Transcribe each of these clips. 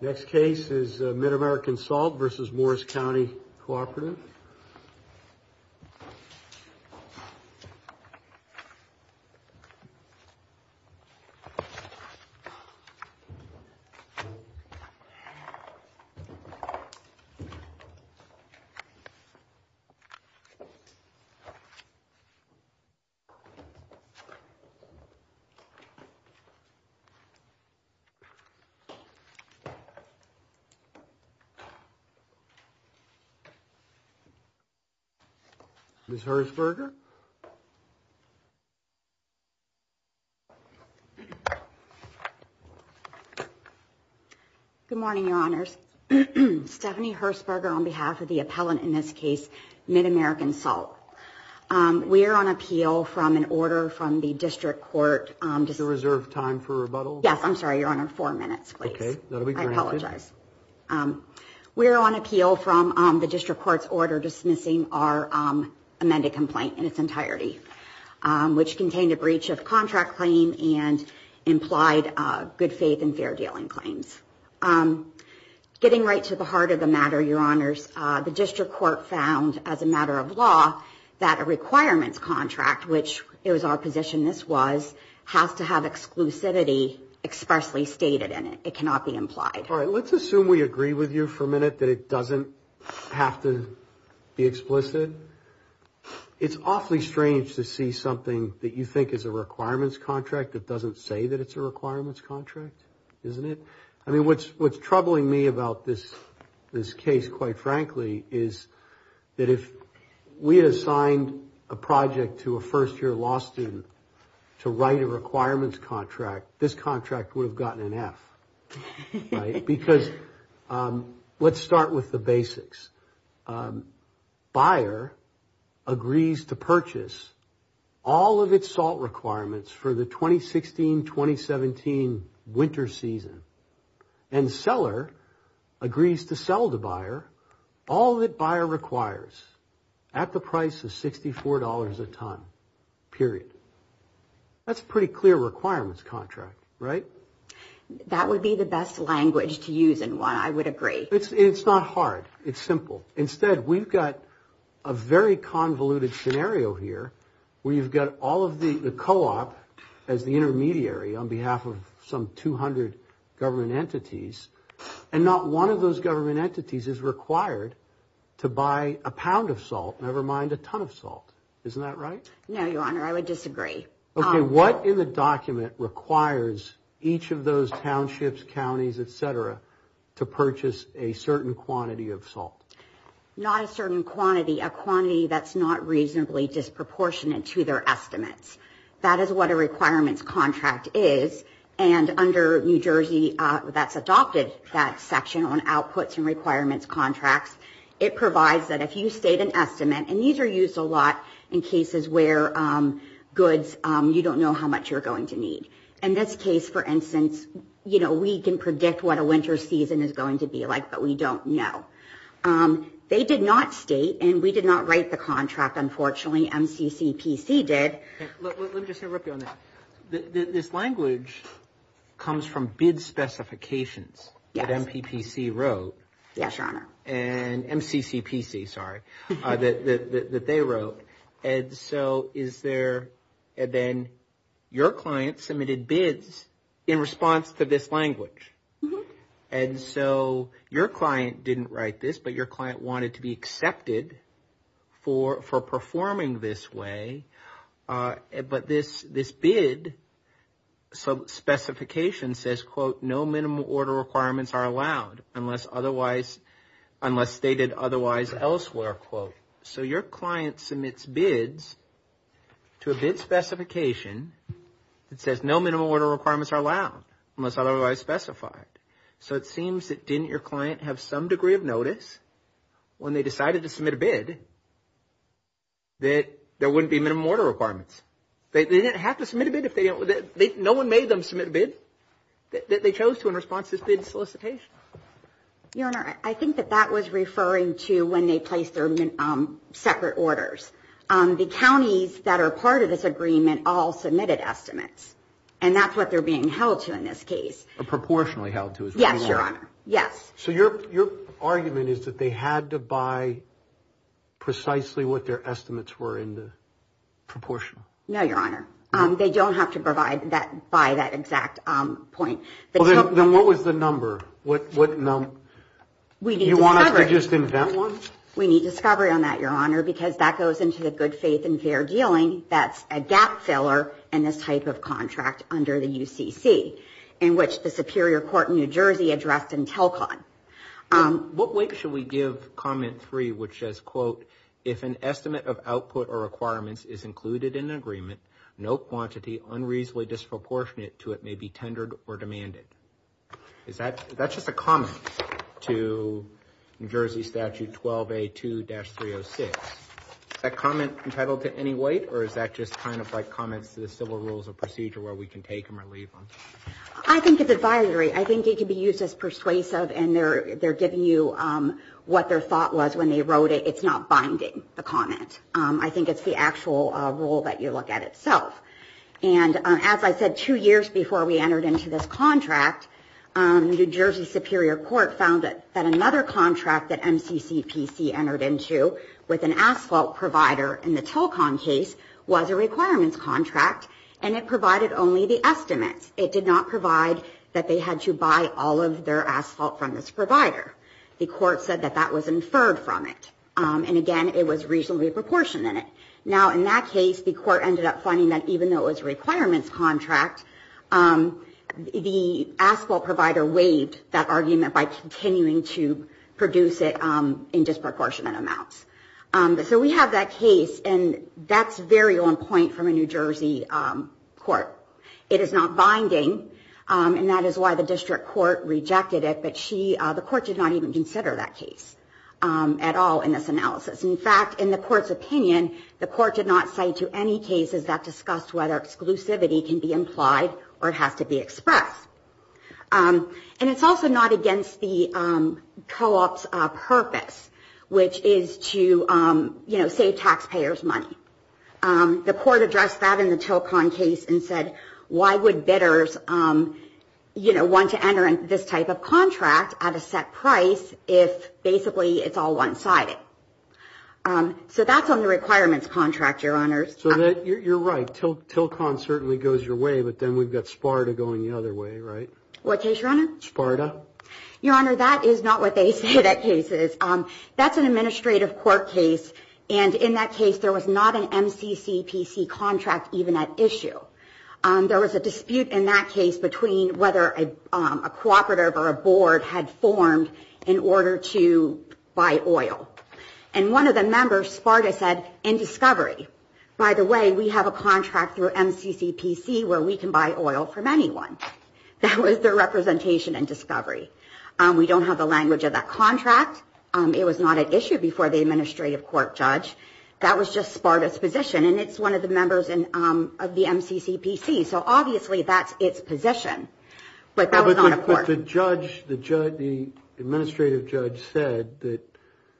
Next case is Mid-American Salt v. Morris County Cooperative. Ms. Hersperger Good morning, Your Honors. Stephanie Hersperger on behalf of the appellant in this case, Mid-American Salt. We are on appeal from an order from the district court. Is there reserve time for rebuttal? Yes, I'm sorry, Your Honor. Four minutes, please. Okay. That will be granted. I apologize. We are on appeal from the district court's order dismissing our amended complaint in its entirety, which contained a breach of contract claim and implied good faith and fair dealing claims. Getting right to the heart of the matter, Your Honors, the district court found as a to have exclusivity sparsely stated in it. It cannot be implied. All right. Let's assume we agree with you for a minute that it doesn't have to be explicit. It's awfully strange to see something that you think is a requirements contract that doesn't say that it's a requirements contract, isn't it? I mean, what's troubling me about this case, quite frankly, is that if we assigned a project to a first-year law student to write a requirements contract, this contract would have gotten an F, right? Because let's start with the basics. Buyer agrees to purchase all of its salt requirements for the 2016-2017 winter season. And seller agrees to sell the buyer all that buyer requires at the price of $64 a ton, period. That's a pretty clear requirements contract, right? That would be the best language to use in one, I would agree. It's not hard. It's simple. Instead, we've got a very convoluted scenario here where you've got all of the co-op as the intermediary on behalf of some 200 government entities, and not one of those government entities is required to buy a pound of salt, never mind a ton of salt. Isn't that right? No, Your Honor, I would disagree. Okay, what in the document requires each of those townships, counties, et cetera, to purchase a certain quantity of salt? Not a certain quantity, a quantity that's not reasonably disproportionate to their estimates. That is what a requirements contract is. And under New Jersey, that's adopted, that section on outputs and requirements contracts. It provides that if you state an estimate, and these are used a lot in cases where goods, you don't know how much you're going to need. In this case, for instance, we can predict what a winter season is going to be like, but we don't know. They did not state, and we did not write the contract, unfortunately. Only MCCPC did. Let me just interrupt you on that. This language comes from bid specifications that MPPC wrote. Yes, Your Honor. And MCCPC, sorry, that they wrote. And so is there, and then your client submitted bids in response to this language. And so your client didn't write this, but your client wanted to be accepted for performing this way. But this bid specification says, quote, no minimum order requirements are allowed unless otherwise, unless stated otherwise elsewhere, quote. So your client submits bids to a bid specification that says no minimum order requirements are allowed unless otherwise specified. So it seems that didn't your client have some degree of notice when they decided to submit a bid that there wouldn't be minimum order requirements? They didn't have to submit a bid if they didn't, no one made them submit a bid that they chose to in response to this bid solicitation. Your Honor, I think that that was referring to when they placed their separate orders. The counties that are part of this agreement all submitted estimates, and that's what they're being held to in this case. Or proportionally held to. Yes, Your Honor. Yes. So your argument is that they had to buy precisely what their estimates were in the proportion? No, Your Honor. They don't have to provide that by that exact point. Then what was the number? What number? We need discovery. You want us to just invent one? We need discovery on that, Your Honor, because that goes into the good faith and fair dealing. That's a gap filler in this type of contract under the UCC, in which the Superior Court in New Jersey addressed in Telcon. What weight should we give Comment 3, which says, quote, if an estimate of output or requirements is included in an agreement, no quantity unreasonably disproportionate to it may be tendered or demanded? That's just a comment to New Jersey Statute 12A2-306. Is that comment entitled to any weight, or is that just kind of like comments to the civil rules of procedure where we can take them or leave them? I think it's advisory. I think it can be used as persuasive, and they're giving you what their thought was when they wrote it. It's not binding, the comment. I think it's the actual rule that you look at itself. And as I said, two years before we entered into this contract, New Jersey Superior Court found that another contract that MCCPC entered into with an asphalt provider in the Telcon case was a requirements contract, and it provided only the estimates. It did not provide that they had to buy all of their asphalt from this provider. The court said that that was inferred from it. And again, it was reasonably proportionate. Now, in that case, the court ended up finding that even though it was a requirements contract, the asphalt provider waived that argument by continuing to produce it in disproportionate amounts. So we have that case, and that's very on point from a New Jersey court. It is not binding, and that is why the district court rejected it, but the court did not even consider that case at all in this analysis. In fact, in the court's opinion, the court did not cite to any cases that discussed whether exclusivity can be implied or it has to be expressed. And it's also not against the co-op's purpose, which is to save taxpayers money. The court addressed that in the Telcon case and said, why would bidders want to enter this type of contract at a set price if basically it's all one-sided? So that's on the requirements contract, Your Honors. So you're right. Telcon certainly goes your way, but then we've got SPARTA going the other way, right? What case, Your Honor? SPARTA. Your Honor, that is not what they say that case is. That's an administrative court case, and in that case, there was not an MCCPC contract even at issue. There was a dispute in that case between whether a cooperative or a board had formed in order to buy oil. And one of the members, SPARTA, said, in discovery. By the way, we have a contract through MCCPC where we can buy oil from anyone. That was their representation in discovery. We don't have the language of that contract. It was not at issue before the administrative court, Judge. That was just SPARTA's position, and it's one of the members of the MCCPC. So obviously, that's its position, but that was not a court. But the judge, the administrative judge, said that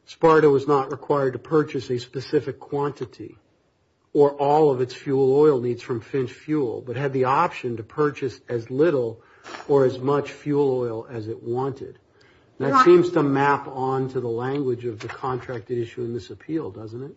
SPARTA was not required to purchase a specific quantity or all of its fuel oil needs from Finch Fuel, but had the option to purchase as little or as much fuel oil as it wanted. That seems to map onto the language of the contract at issue in this appeal, doesn't it?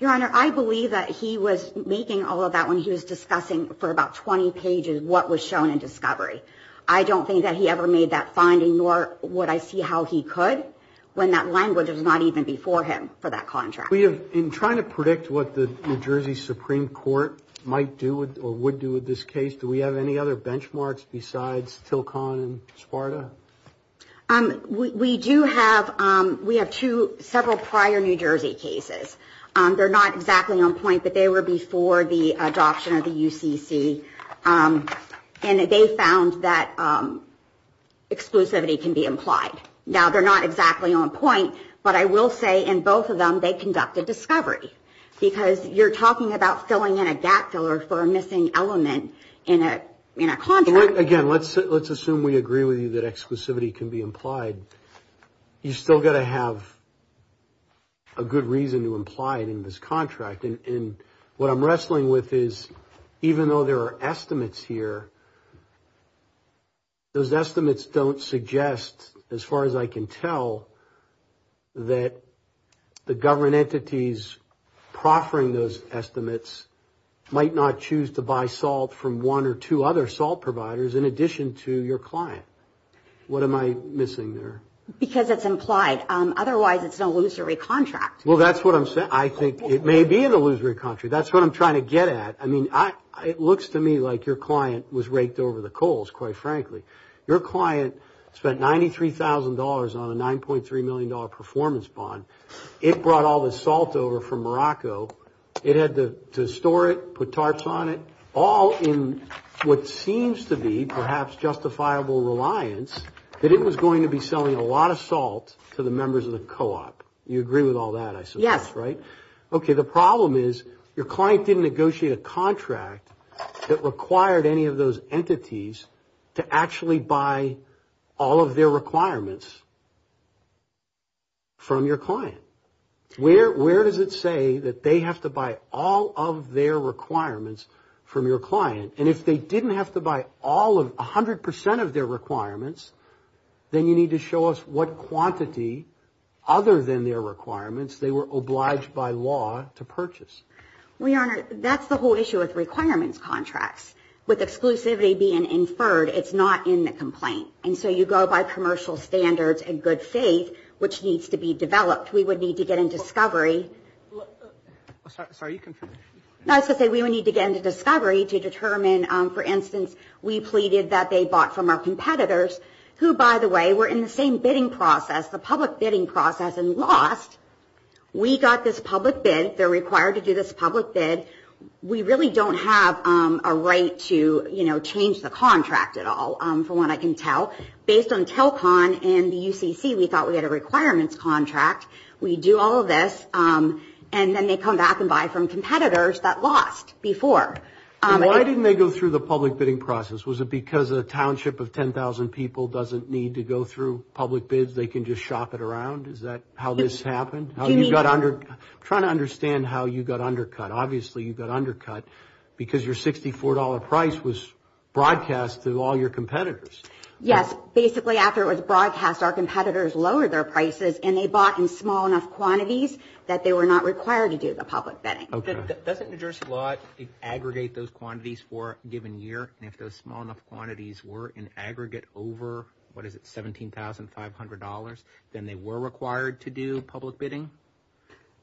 Your Honor, I believe that he was making all of that when he was discussing for about 20 pages what was shown in discovery. I don't think that he ever made that finding, nor would I see how he could when that language was not even before him for that contract. In trying to predict what the New Jersey Supreme Court might do or would do with this case, do we have any other benchmarks besides TILCON and SPARTA? We do have several prior New Jersey cases. They're not exactly on point, but they were before the adoption of the UCC. And they found that exclusivity can be implied. Now, they're not exactly on point, but I will say in both of them, they conducted discovery. Because you're talking about filling in a gap filler for a missing element in a contract. Again, let's assume we agree with you that exclusivity can be implied. You've still got to have a good reason to imply it in this contract. And what I'm wrestling with is, even though there are estimates here, those estimates don't suggest, as far as I can tell, that the government entities proffering those estimates might not choose to buy salt from one or two other salt providers in addition to your client. What am I missing there? Because it's implied. Otherwise, it's an illusory contract. Well, that's what I'm saying. I think it may be an illusory contract. That's what I'm trying to get at. I mean, it looks to me like your client was raked over the coals, quite frankly. Your client spent $93,000 on a $9.3 million performance bond. It brought all the salt over from Morocco. It had to store it, put tarps on it, all in what seems to be perhaps justifiable reliance that it was going to be selling a lot of salt to the members of the co-op. Yes. Okay. The problem is your client didn't negotiate a contract that required any of those entities to actually buy all of their requirements from your client. Where does it say that they have to buy all of their requirements from your client? And if they didn't have to buy 100% of their requirements, then you need to show us what quantity other than their requirements they were obliged by law to purchase. Well, Your Honor, that's the whole issue with requirements contracts. With exclusivity being inferred, it's not in the complaint. And so you go by commercial standards and good faith, which needs to be developed. We would need to get into discovery. Sorry, you can finish. No, I was going to say we would need to get into discovery to determine, for instance, we pleaded that they bought from our competitors, who, by the way, were in the same bidding process, the public bidding process, and lost. We got this public bid. They're required to do this public bid. We really don't have a right to change the contract at all, from what I can tell. Based on Telcon and the UCC, we thought we had a requirements contract. We do all of this, and then they come back and buy from competitors that lost before. Why didn't they go through the public bidding process? Was it because a township of 10,000 people doesn't need to go through public bids? They can just shop it around? Is that how this happened? I'm trying to understand how you got undercut. Obviously, you got undercut because your $64 price was broadcast to all your competitors. Yes. Basically, after it was broadcast, our competitors lowered their prices, and they bought in small enough quantities that they were not required to do the public bidding. Doesn't New Jersey law aggregate those quantities for a given year? If those small enough quantities were in aggregate over $17,500, then they were required to do public bidding?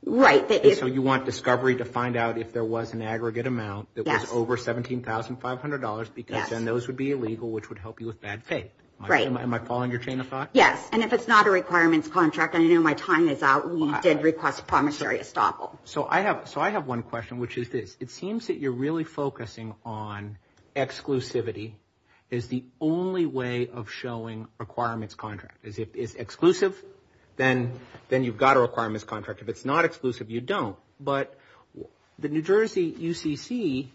Right. You want Discovery to find out if there was an aggregate amount that was over $17,500, because then those would be illegal, which would help you with bad faith. Am I following your chain of thought? Yes. If it's not a requirements contract, and I know my time is out, we did request a promissory estoppel. I have one question, which is this. It seems that you're really focusing on exclusivity as the only way of showing requirements contract. If it's exclusive, then you've got a requirements contract. If it's not exclusive, you don't. But the New Jersey UCC,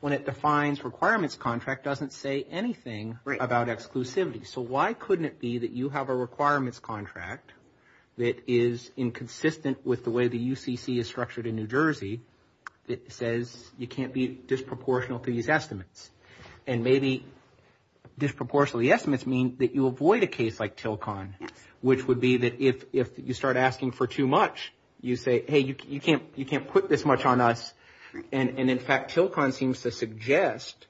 when it defines requirements contract, doesn't say anything about exclusivity. So why couldn't it be that you have a requirements contract that is inconsistent with the way the UCC is structured in New Jersey that says you can't be disproportional to these estimates? And maybe disproportionally estimates mean that you avoid a case like Tilcon, which would be that if you start asking for too much, you say, hey, you can't put this much on us. And in fact, Tilcon seems to suggest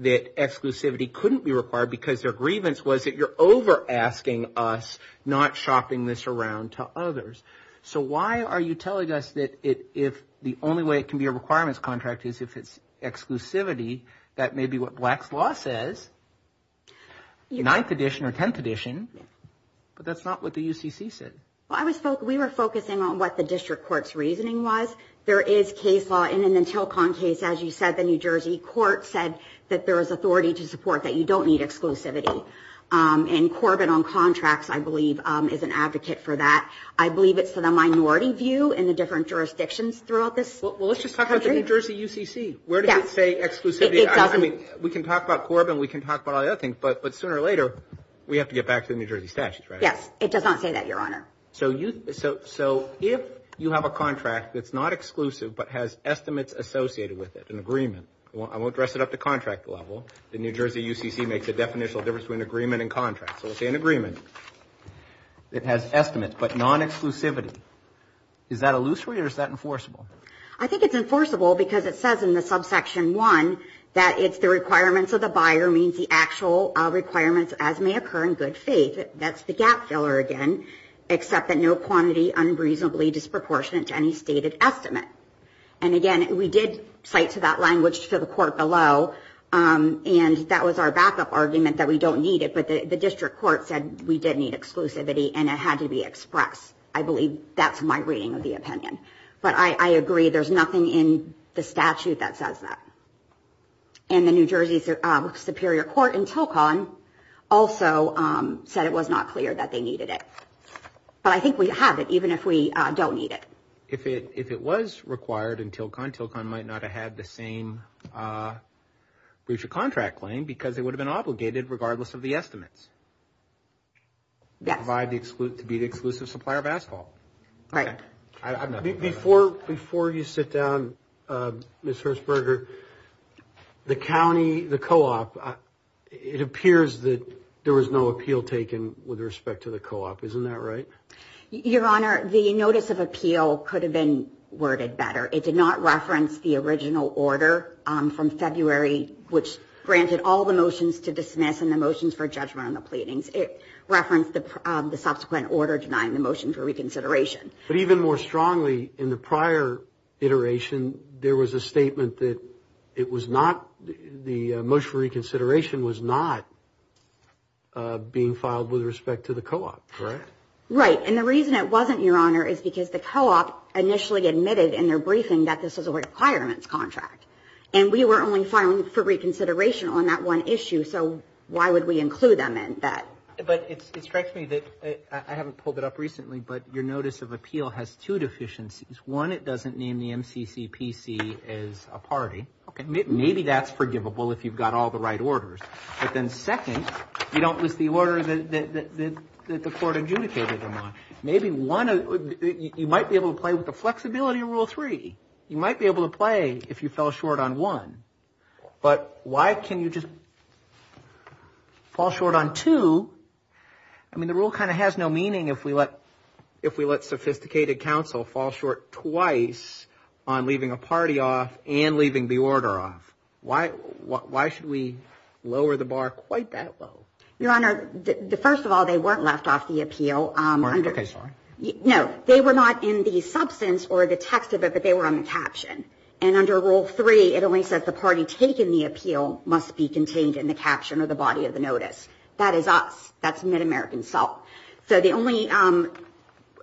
that exclusivity couldn't be required because their grievance was that you're over asking us and not shopping this around to others. So why are you telling us that if the only way it can be a requirements contract is if it's exclusivity, that may be what Black's Law says, 9th edition or 10th edition, but that's not what the UCC said. Well, we were focusing on what the district court's reasoning was. There is case law, and in the Tilcon case, as you said, the New Jersey court said that there was authority to support that you don't need exclusivity. And Corbin on contracts, I believe, is an advocate for that. I believe it's to the minority view in the different jurisdictions throughout this country. Well, let's just talk about the New Jersey UCC. Where does it say exclusivity? We can talk about Corbin. We can talk about all the other things, but sooner or later, we have to get back to the New Jersey statutes, right? Yes, it does not say that, Your Honor. So if you have a contract that's not exclusive but has estimates associated with it, an agreement, I won't dress it up to contract level, the New Jersey UCC makes a definitional difference between agreement and contract. So we'll say an agreement. It has estimates, but non-exclusivity. Is that illusory or is that enforceable? I think it's enforceable because it says in the subsection 1 that it's the requirements of the buyer means the actual requirements as may occur in good faith. That's the gap filler again, except that no quantity unreasonably disproportionate to any stated estimate. And again, we did cite to that language to the court below and that was our backup argument that we don't need it. But the district court said we did need exclusivity and it had to be expressed. I believe that's my reading of the opinion. But I agree, there's nothing in the statute that says that. And the New Jersey Superior Court in Tilcon also said it was not clear that they needed it. But I think we have it, even if we don't need it. If it was required in Tilcon, Tilcon might not have had the same breach of contract claim because it would have been obligated regardless of the estimates. Yes. To be the exclusive supplier of asphalt. Right. Before you sit down, Ms. Hershberger, the county, the co-op, it appears that there was no appeal taken with respect to the co-op. Isn't that right? Your Honor, the notice of appeal could have been worded better. It did not reference the original order from February which granted all the motions to dismiss and the motions for judgment on the pleadings. It referenced the subsequent order denying the motion for reconsideration. But even more strongly, in the prior iteration, there was a statement that it was not, the motion for reconsideration was not being filed with respect to the co-op, correct? Right. And the reason it wasn't, Your Honor, is because the co-op initially admitted in their briefing that this was a requirements contract. And we were only filing for reconsideration on that one issue, so why would we include them in that? But it strikes me that, I haven't pulled it up recently, but your notice of appeal has two deficiencies. One, it doesn't name the MCCPC as a party. Okay. Maybe that's forgivable if you've got all the right orders. But then second, you don't list the order that the court adjudicated them on. Maybe one, you might be able to play with the flexibility of Rule 3. You might be able to play if you fell short on one. But why can you just fall short on two? I mean, the rule kind of has no meaning if we let sophisticated counsel fall short twice on leaving a party off and leaving the order off. Why should we lower the bar quite that low? Your Honor, first of all, they weren't left off the appeal. Okay, sorry. No, they were not in the substance or the text of it, but they were on the caption. And under Rule 3, it only says the party taking the appeal must be contained in the caption or the body of the notice. That is us. That's Mid-American salt. So the only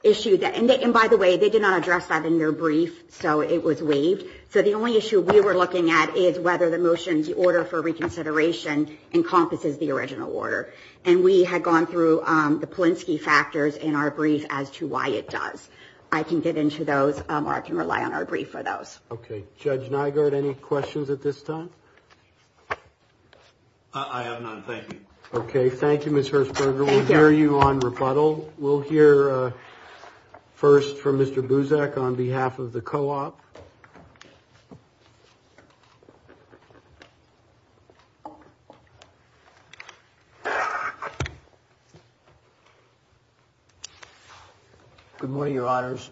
issue, and by the way, they did not address that in their brief, so it was waived. So the only issue we were looking at is whether the motion's order for reconsideration encompasses the original order. And we had gone through the Polinsky factors in our brief as to why it does. I can get into those, or I can rely on our brief for those. Okay. Judge Nygaard, any questions at this time? I have none. Thank you. Okay. Thank you, Ms. Herzberger. We'll hear you on rebuttal. We'll hear first from Mr. Buzek on behalf of the co-op. Good morning, Your Honors.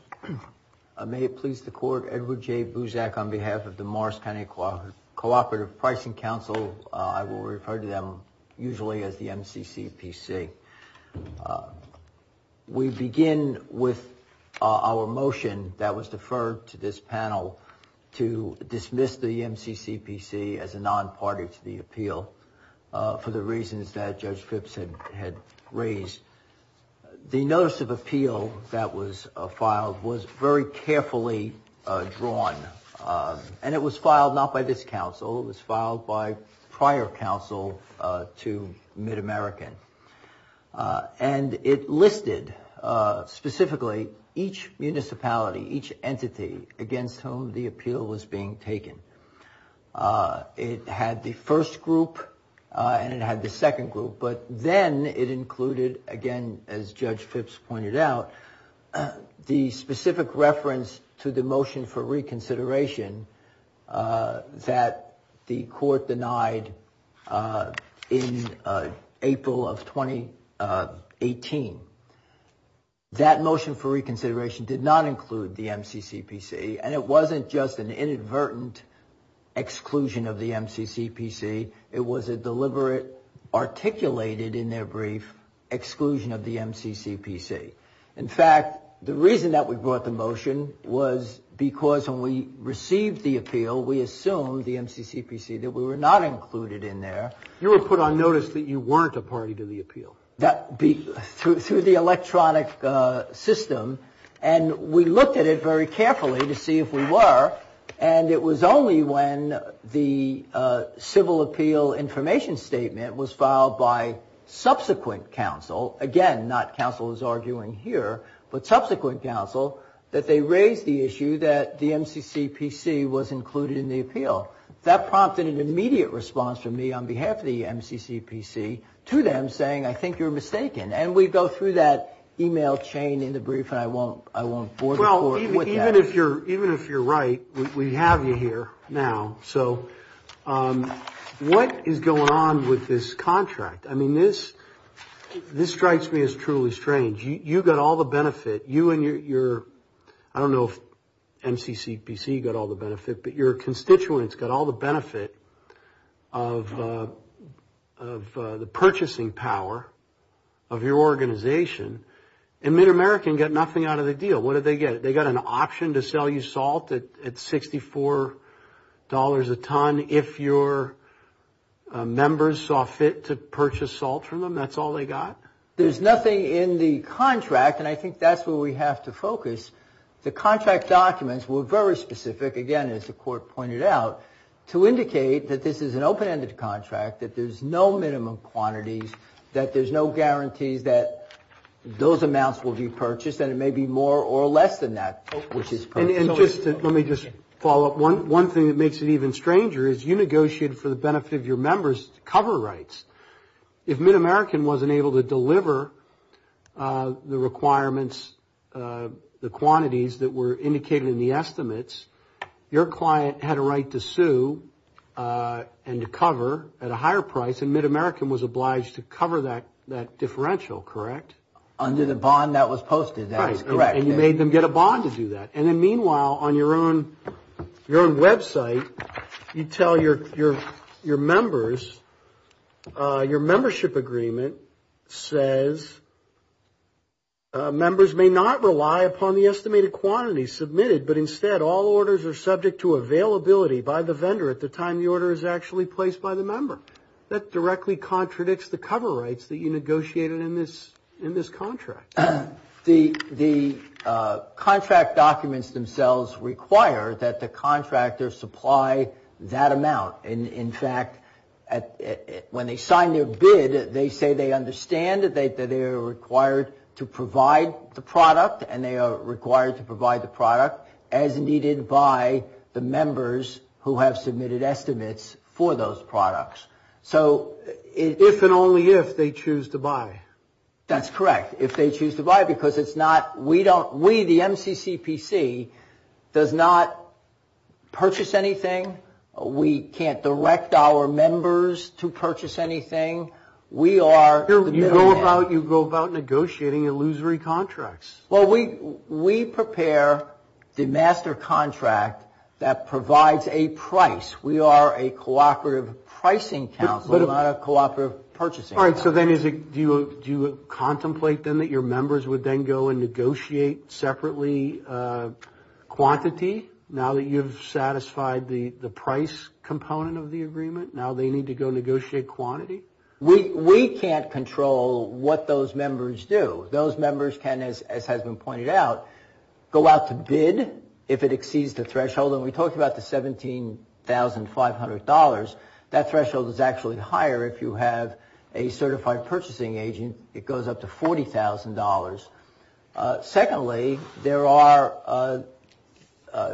May it please the court, Edward J. Buzek on behalf of the Morris County Cooperative Pricing Council. I will refer to them usually as the MCCPC. by Mr. Buzek on behalf of the Mars County Cooperative Pricing Council. I would like to ask the panel to dismiss the MCCPC as a non-party to the appeal for the reasons that Judge Phipps had raised. The notice of appeal that was filed was very carefully drawn. And it was filed not by this council. It was filed by prior council to MidAmerican. And it listed specifically each municipality, each entity against whom the appeal was being taken. It had the first group and it had the second group. But then it included, again, as Judge Phipps pointed out, the specific reference to the motion for reconsideration that the court denied in April of 2018. That motion for reconsideration did not include the MCCPC. And it wasn't just an inadvertent exclusion of the MCCPC. It was a deliberate, articulated in their brief, exclusion of the MCCPC. In fact, the reason that we brought the motion was because when we received the appeal, we assumed the MCCPC that we were not included in there. You were put on notice that you weren't a party to the appeal. Through the electronic system and we looked at it very carefully to see if we were. And it was only when the civil appeal information statement was filed by subsequent counsel. Again, not counsel is arguing here, but subsequent counsel that they raised the issue that the MCCPC was included in the appeal. That prompted an immediate response from me on behalf of the MCCPC to them saying, I think you're mistaken. And we go through that email chain in the brief and I won't bore the court with that. Well, even if you're right, we have you here now. So, what is going on with this contract? I mean, this strikes me as truly strange. You got all the benefit. You and your, I don't know if MCCPC got all the benefit, but your constituents got all the benefit of the purchasing power of your organization. And MidAmerican got nothing out of the deal. What did they get? They got an option to sell you salt at $64 a ton if your members saw fit to purchase salt from them. That's all they got? There's nothing in the contract, and I think that's where we have to focus. The contract documents were very specific, again, as the court pointed out, to indicate that this is an open-ended contract, that there's no minimum quantities, that there's no guarantees that those amounts will be purchased, and it may be more or less than that. And just, let me just follow up. One thing that makes it even stranger is you negotiated for the benefit of your members to cover rights. If MidAmerican wasn't able to deliver the requirements, the quantities that were indicated in the estimates, your client had a right to sue and to cover at a higher price, and MidAmerican was obliged to cover that differential, correct? Under the bond that was posted, that is correct. Right, and you made them get a bond to do that. And then, meanwhile, on your own website, you tell your members, your membership agreement, says, members may not rely upon the estimated quantities submitted, but instead, all orders are subject to availability by the vendor at the time the order is actually placed by the member. That directly contradicts the cover rights that you negotiated in this contract. The contract documents themselves require that the contractor supply that amount. In fact, when they sign their bid, they say they understand that they are required to provide the product, and they are required to provide the product as needed by the members who have submitted estimates for those products. If and only if they choose to buy. That's correct. If they choose to buy because it's not, we don't, we, the MCCPC, does not purchase anything. We can't direct our members to purchase anything. We are. You go about negotiating illusory contracts. Well, we prepare the master contract that provides a price. We are a cooperative pricing council, not a cooperative purchasing council. All right, so then is it, do you contemplate then that your members would then go and negotiate separately quantity now that you've satisfied the price component of the agreement? Now they need to go negotiate quantity? We can't control what those members do. Those members can, as has been pointed out, go out to bid if it exceeds the threshold, and we talked about the $17,500. That threshold is actually higher if you have a certified purchasing agent. It goes up to $40,000. Secondly, there are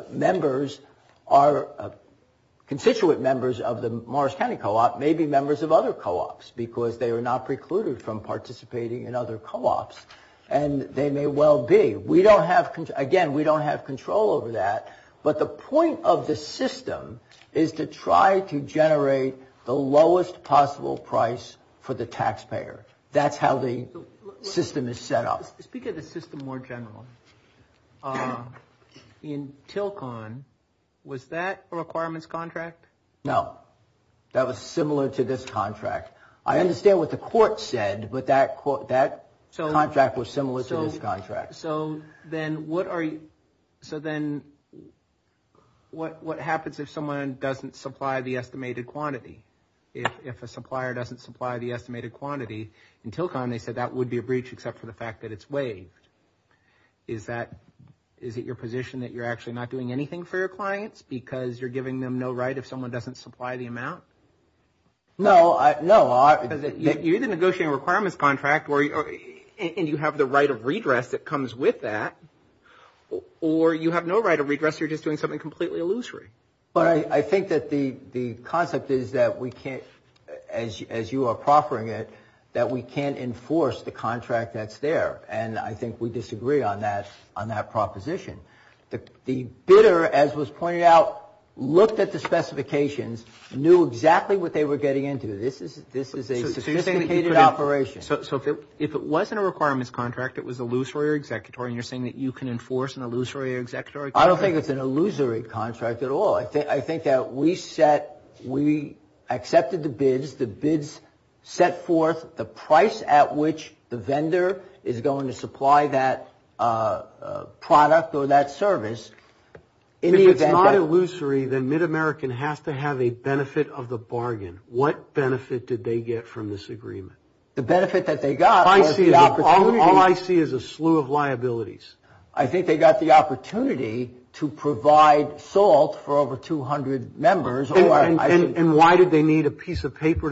members are constituent members of the Morris County Co-op may be members of other co-ops because they are not precluded from participating in other co-ops, and they may well be. We don't have, again, we don't have control over that, but the point of the system is to try to generate the lowest possible price for the taxpayer. That's how the system is set up. Speak of the system more generally. In TILCON, was that a requirements contract? No. That was similar to this contract. I understand what the court said, but that contract was similar to this contract. So then what are you so then what happens if someone doesn't supply the estimated quantity? If a supplier doesn't supply the estimated quantity, in TILCON, they said that would be a breach except for the fact that it's waived. Is that, is it your position that you're actually not doing anything for your clients because you're giving them no right if someone doesn't supply the amount? No. No. You're the negotiating requirements contract and you have the right of redress that comes with that or you have no right of redress. You're just doing something completely illusory. But I think that the concept is that we can't, as you are proffering it, that we can't enforce the contract that's there and I think we disagree on that proposition. The bidder, as was pointed out, looked at the contract that was illusory or executory and you're saying that you can enforce an illusory or executory contract? I don't think it's an illusory contract at all. I think that we set, we accepted the bids, the bids set forth the price at which the vendor is going to supply that product or that service in the event that... If it's not illusory, then Mid-American has to have a benefit of the bargain. What benefit did they get from this agreement? The benefit that they got was the opportunity... All I see is a slew of liabilities. I think they got the opportunity to provide salt for over 200 members... And why did they need a piece of paper?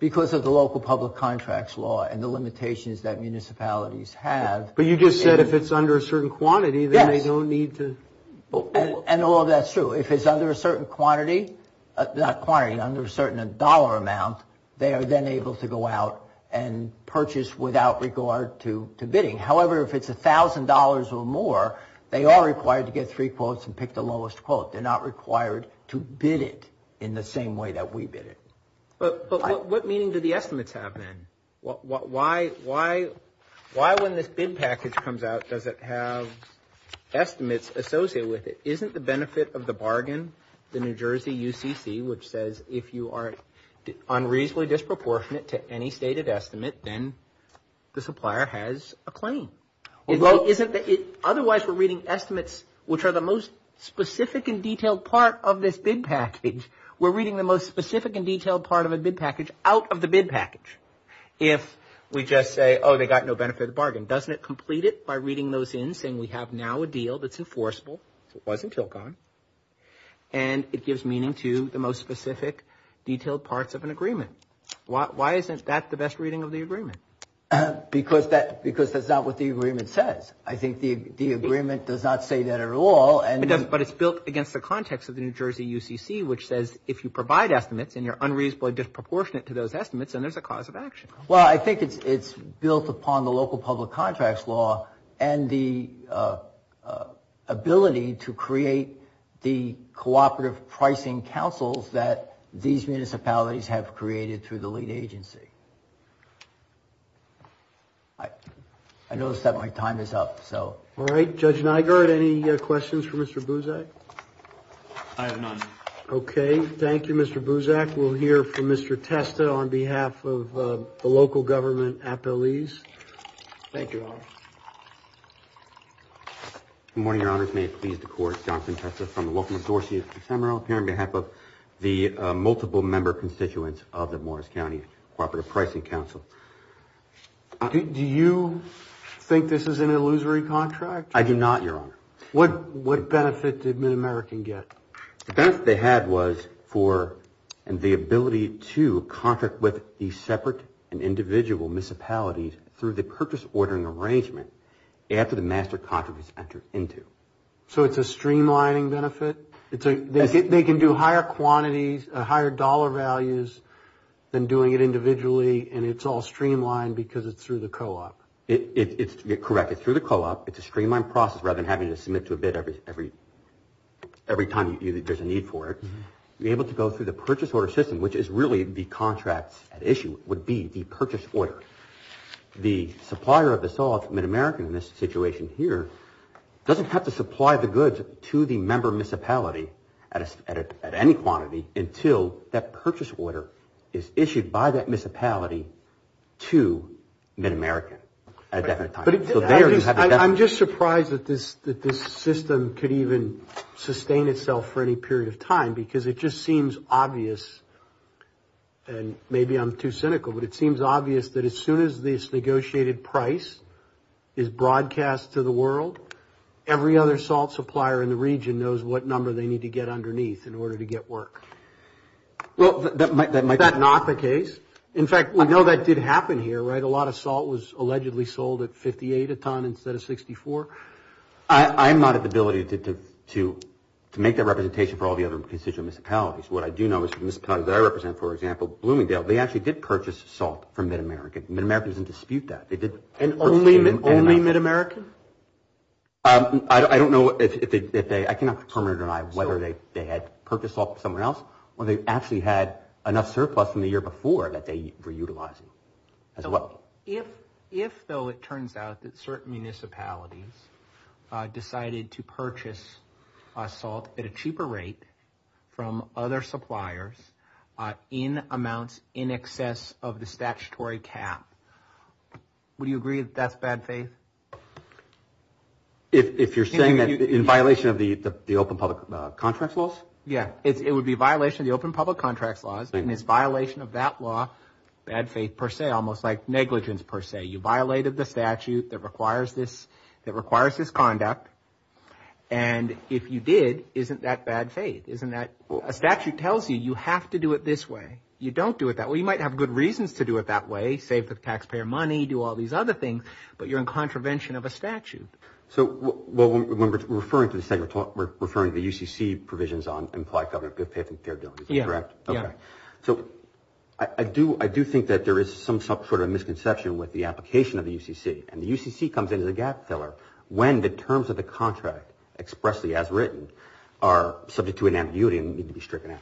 Because of the local public contracts law and the limitations that municipalities have. But you just said if it's under a certain quantity, then they don't need to... And all that's true. If it's under a certain quantity, not quantity, under a certain dollar amount, they are then able to go out and purchase without regard to bidding. However, if it's a thousand dollars or more, they are required to get three quotes and pick the lowest quote. They're not required to bid it in the same way that we bid it. But what meaning do the estimates have then? Why when this bid package comes out, does it have estimates associated with it? Isn't the benefit of the bargain, the New Jersey UCC, which says if you are unreasonably disproportionate to any stated estimate, then the supplier has a claim. Otherwise, we're reading estimates which are the most specific and detailed part of this bid package. We're reading the most specific part of it by reading those in, saying we have now a deal that's enforceable, and it gives meaning to the most specific detailed parts of an agreement. Why isn't that the best reading of the agreement? Because that's not what the agreement says. I think the agreement does not say that at all. But it's built against the context of the New Jersey UCC, which says if you provide estimates and you're unreasonably disproportionate to those estimates, then there's a cause of action. Well, I think it's built upon the local public contracts law and the ability to create the cooperative contract. Any questions for Mr. Buzak? none. Okay. Thank you, Mr. Buzak. We'll hear from Mr. Testa on behalf of the local government appellees. Thank you. Good morning, Your Honors. May it please the Court. Thank you. What benefit did Mid-American get? The benefit they had was for the ability to contract with the separate and individual municipalities through the purchase ordering arrangement after the master contract was entered into. So it's a streamlining benefit? They can do higher quantities, then doing it individually, and it's all streamlined because it's through the co-op. Correct. It's through the co-op. It's a streamlined process rather than having to submit to a bid every time there's a need for it. You're able to go through the purchase order system, which is really the contracts at issue, would be the purchase order. The supplier of this all, Mid-American in this situation here, doesn't have to supply the goods to the member municipality at any quantity until that purchase order is issued by that municipality to Mid-American at a definite time. I'm just surprised that this system could even used. If this case is broadcast to the world, every other salt supplier in the region knows what number they need to get underneath in order to get work. Is that not the case? In fact, we know that did happen here. A lot of salt was allegedly sold at 58 a ton to Mid-America at a certain time. I'm not at the ability to make that representation for all the other constituent municipalities. What I do know is the municipalities that I represent, for example, Bloomingdale, they actually did purchase salt from Mid-American. Only Mid-American? I cannot remember. So it turns out that certain municipalities decided to purchase salt at a cheaper rate from other suppliers in amounts in excess of the statutory cap. Would you agree that that's bad faith? If you're saying that in violation of the open public contracts laws? Yeah, it would be violation of the open public contracts laws, and it's violation of that law, bad faith per se, almost like negligence per se. You violated the statute that requires this conduct, and if you did, isn't that bad faith? A statute tells you you have to do it this way. You don't do it that way. You might have good reasons to do it that way, save the taxpayer money, do all these other things, but you're in contravention of a statute. So when we're referring to the UCC provisions, I do think that there is some sort of misconception with the application of the UCC, and the UCC comes in as a paragraph filler, when the terms of the contract, expressly as written, are subject to an ambiguity and need to be stricken out.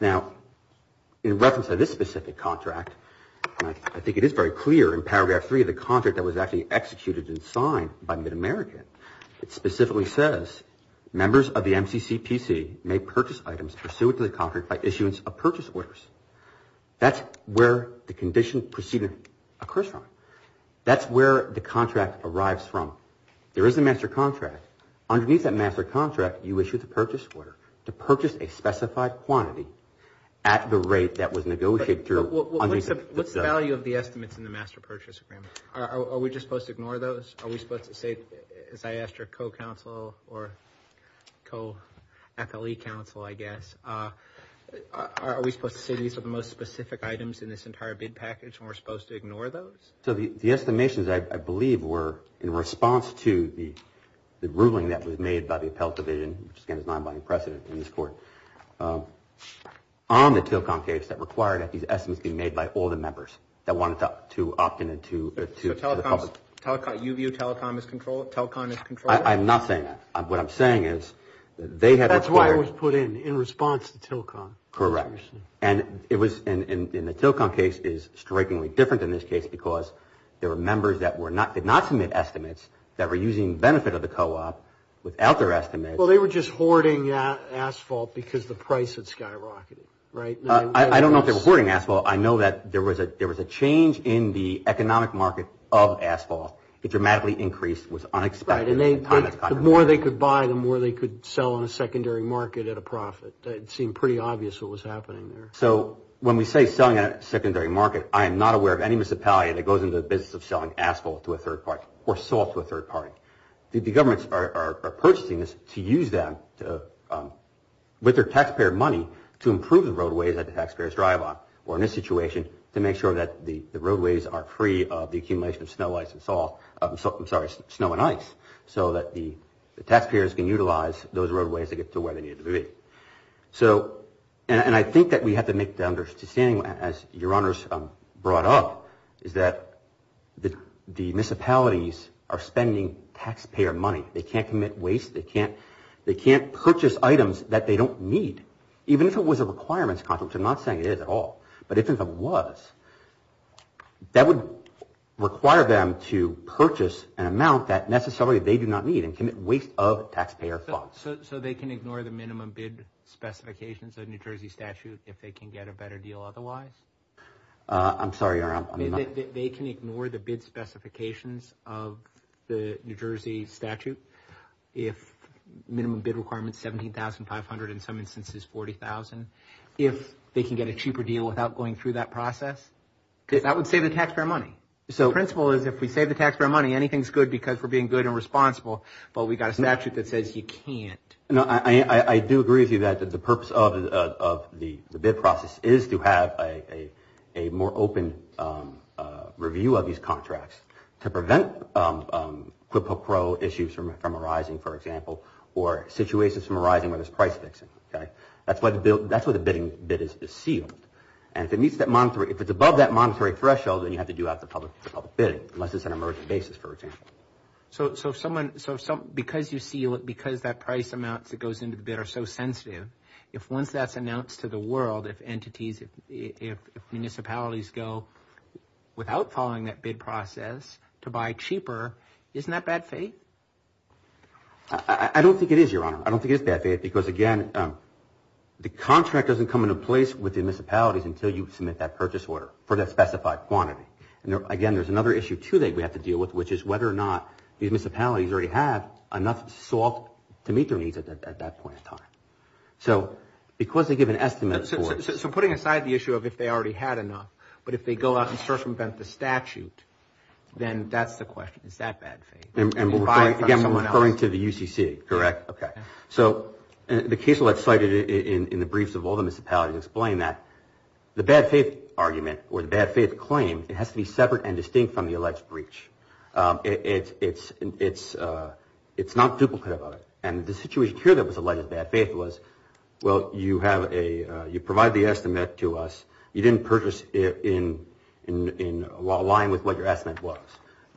Now, in reference to this specific contract, I think it is very clear in paragraph 3 of the contract that was actually executed and signed by Mid-American, it specifically says, members of the MCCPC may purchase items pursuant to the contract by issuance of purchase orders. That's where the condition proceeding occurs from. That's where the contract arrives from. There is a master contract. Underneath that master contract, you issue the purchase order to purchase a specified quantity at the rate that was negotiated through. What's the value of the estimates in the master contract? Are we supposed to say these are the most specific items in this entire package and we are supposed to ignore those? The estimations, I believe, were in response to the ruling that was made by the appellate division, which is not by precedent in this court, on the telecom case that required these estimates to be made by all the members that wanted to opt in. Telecom is controlled? I'm not saying that. What I'm saying is that they had... That's why it was put in, in response to telecom. Correct. And the telecom case is strikingly different in this case because there were members that did not submit estimates that were using benefit of the co-op without their estimates. Well, they were just hoarding asphalt because the price had skyrocketed, right? I don't know if they were hoarding asphalt. I know that there was a change in the economic market of asphalt. It dramatically increased. Right. The more they could buy, the more they could buy. The government is purchasing this to use them with their taxpayer money to improve the roadways that the taxpayers drive on to make sure that the roadways are free of snow and ice so that the taxpayers can utilize the roadways to get to where they need to be. And I think that we have to make the understanding, as your honors brought up, is that the municipalities are spending taxpayer money. They can't commit waste. They can't purchase items that they don't need, even if it was a requirements contract. I'm not saying it is at all, but if it was, that would require them to purchase an amount that necessarily they do not need and commit waste of taxpayer funds. So they can ignore the minimum bid specifications of New Jersey statute if they can get a better deal otherwise? I'm sorry, your honor. They can ignore the bid specifications of the New Jersey statute if they can get a cheaper deal without going through that process? That would save the taxpayer money. The principle is if we save the taxpayer money, anything is good because we are being good and responsible, but we have a statute that says you can't. I do agree with you that the purpose of the bid process is to have a more open review of these contracts to prevent issues from arising, for example, or situations from arising where there's price fixing. That's why the bidding bid is sealed. If it's above that monetary threshold, then you have to do out the public bidding, unless it's an emergency basis, for example. So because that price amount that goes into the bid is so sensitive, if once that's announced to the world, if municipalities go without following that bid process to buy cheaper, isn't that bad faith? I don't think it is, Your Honor. I don't think it is bad faith because, again, the contract doesn't come into place with the municipalities until you submit that purchase order for that specified quantity. Again, there's another issue, too, that we have to deal with, which is whether or not these municipalities already have enough salt to meet their needs at that point in time. So because they give an estimate for... So putting aside the issue of if they already had enough, but if they go out and search for the statute, then that's the question. Is that bad faith? Again, I'm referring to the UCC, correct? Okay. So the case that I cited in the briefs of all the municipalities explain that the bad faith argument or the bad faith claim, it has to be separate and distinct from the argument. It's not duplicative of it. And the situation here that was alleged bad faith was, well, you provide the estimate to us, you didn't purchase it in line with what your estimate was,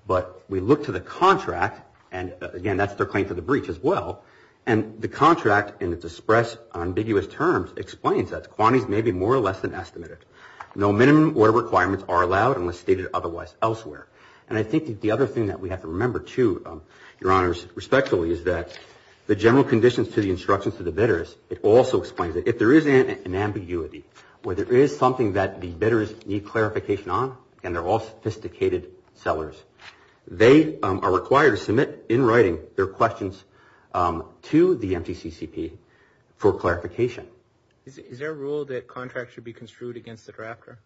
but we look to the contract and, again, that's their claim for the breach as well, and the contract in its express ambiguous terms explains that the quantities may be more or less than estimated. No minimum order requirements are allowed unless stated otherwise elsewhere. And I think that the other thing that we have to remember too, your honors, respectfully, is that the general conditions to the instructions to the bidders, it also explains that if there is an ambiguity, where there is something that the bidders need clarification on, and they're all sophisticated sellers, they are required to submit, in writing, their questions to the MCCCP for clarification. Is there a rule that contracts should be construed against the drafter?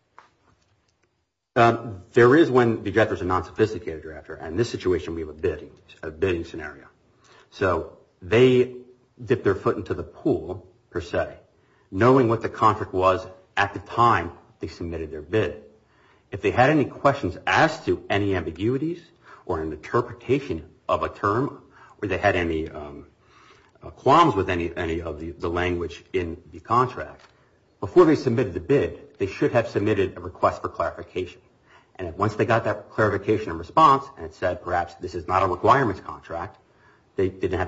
There is when the drafters are non-sophisticated and the bidder is a non-sophisticated drafter, in this situation we have a bidding scenario. So they dip their foot into the pool per se, knowing what the contract was at the time they submitted their bid. If they had any questions asked to any ambiguities or an interpretation of a bid, they didn't have to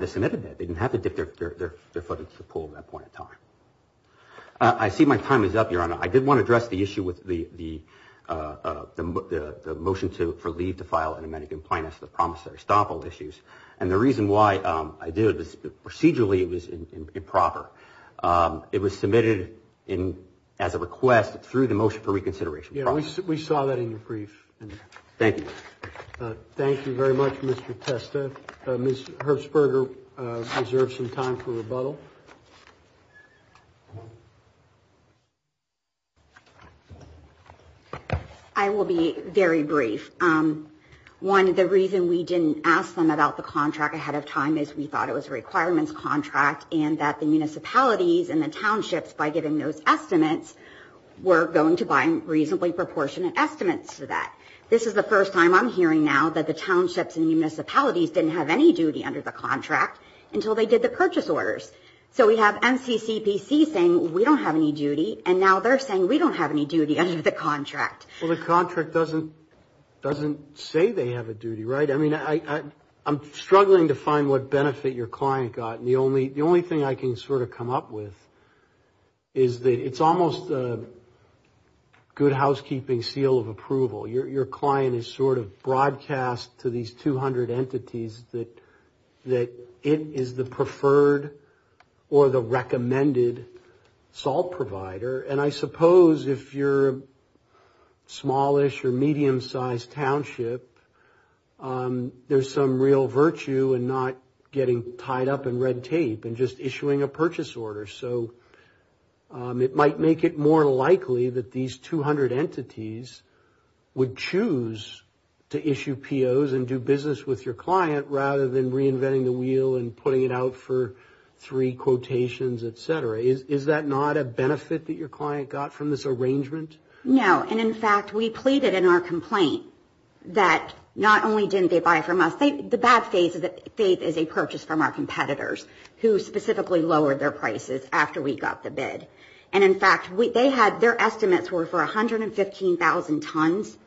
submit a bid. They didn't have to dip their foot into the pool at that point in time. I did want to address the issue with the motion for leave to file and the promissory stomp issues. Procedurally it was improper. It was not Thank you. Thank you very much, Mr. Testa. Ms. Herbsberger deserves some time for rebuttal. I will be very brief. One, the reason we didn't ask them about the contract ahead of time is we thought it was a requirements contract and that the municipalities and the townships were going to buy reasonably proportionate estimates to that. first time I'm hearing now that the townships and the municipalities didn't have any duty under the they did the purchase orders. We have NCCPC saying we don't have any duty and now they're saying we don't have any duty under the contract. The contract doesn't say they have a duty, right? I'm struggling to find what benefit your client got. The only thing I can sort of come up with is that it's almost a good housekeeping seal of approval. Your client is sort of broadcast to these 200 entities that it is the preferred or the recommended SALT provider and I suppose if you're smallish or medium-sized township, there's some real virtue in not getting tied up in red tape and just issuing a purchase order. So it might make it more likely that these 200 entities would choose to issue POs and do business with your client rather than reinventing the wheel and putting it out for sale. And the other thing is that the bad faith is a purchase from our competitors who specifically lowered their prices after we got the bid. And in fact, their estimates were for 115,000 tons.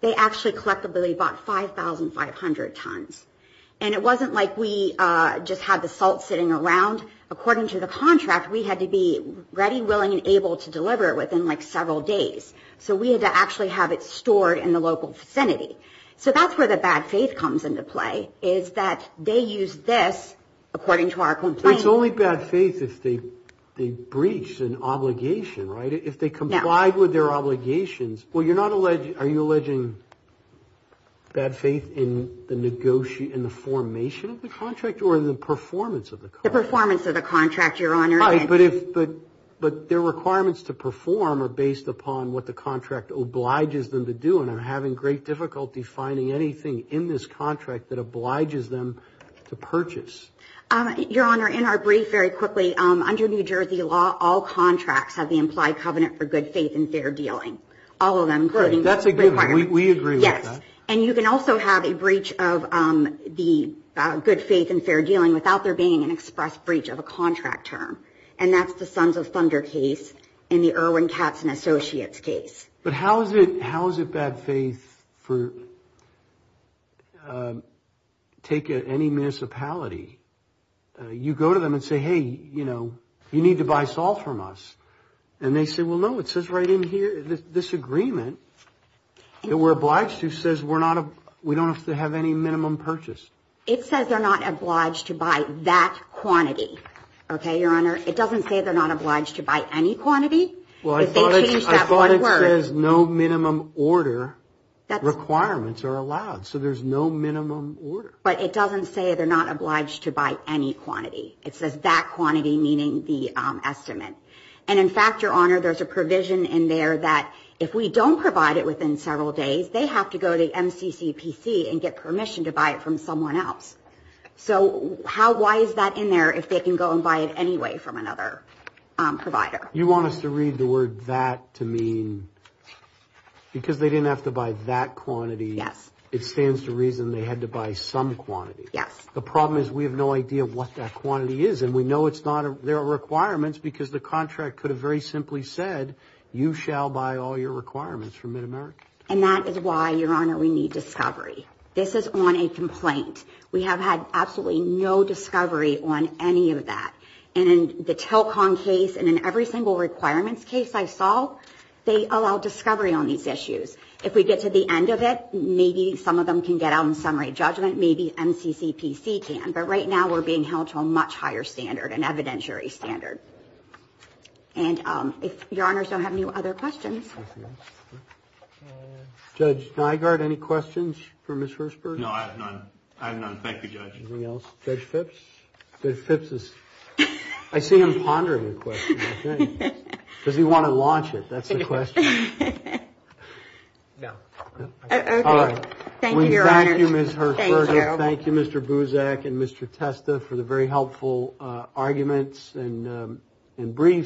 They actually collectively bought 5,500 tons. And it wasn't like we just had the salt sitting around. According to the contract, we had to be ready, willing and able to deliver it within several days. So we had to actually have it stored in the local vicinity. So that's where the bad faith comes into play, is that they use this, according to our complaint. But it's only bad faith if they breach an obligation, right? If they comply with their obligations. Are you alleging bad faith in the formation of the contract or in the performance of the contract? The performance of the contract, Your Honor. But their requirements to perform are based upon what the contract obliges them to do. And I'm having great difficulty finding anything in this contract that obliges them to purchase. Your Honor, in our brief very quickly, under New Jersey law, all contracts have the implied covenant for good faith and fair dealing. All of them. Great. That's a given. We agree with that. Yes. And you can also have a breach of the good faith and fair dealing without there being an express breach of a contract term. And that's the Sons of Thunder case and the Irwin Katz and Associates case. But how is it bad faith for taking any municipality? You go to them and say, hey, you know, you need to buy salt from us. And they say, well, no, it says right in here, this agreement that we're obliged to says we don't have to have any minimum purchase. It says they're not obliged to buy that quantity. Okay, Your Honor, it doesn't say they're not obliged to buy any quantity. I thought it says no minimum order requirements are allowed, so there's no minimum order. But it says, in fact, Your Honor, there's a provision in there that if we don't provide it within several days, they have to go to MCCPC and get permission to buy it from someone else. So why is that in there if they can go and buy it anyway from another provider? You want us to read the word that to mean because they didn't have to buy that quantity. Yes. It stands to reason they had to buy some quantity. Yes. The problem is we have no idea what that quantity is, and we know there are requirements because the contract could have very simply said you shall buy all your requirements from MidAmerica. And that is why, Your Honor, we need discovery. This is on a complaint. We have had absolutely no discovery on any of that. And in the Telcon case and in every single requirements case I saw, they allowed discovery on these issues. If we get to the end of it, maybe some of them can get out in summary judgment, maybe MCCPC can, but right now we're being held to a much higher standard, an evidentiary standard. And, Your Honor, I don't have any other questions. Judge Nygaard, any questions for Ms. Hirshberg? No, I have none. I have none. Thank you, Judge. Anything else? Judge Phipps? Judge Phipps is I see him pondering a question, I think. Does he want to launch it? That's the question. No. Thank you, Your Honor. We thank you, Ms. Hirshberg. Thank you. Thank you, Mr. Buzak and Mr. Testa for the Thank you. Thank you. Thank you. Thank you. Thank you. Thank you. Thank you. Thank you. Thank you. Thank you. Thank you. Thank you. Thank you. Thank you. Thank you, Judge. Thank you. Thank you. Thank you. Thank you. Thank you. Thank you.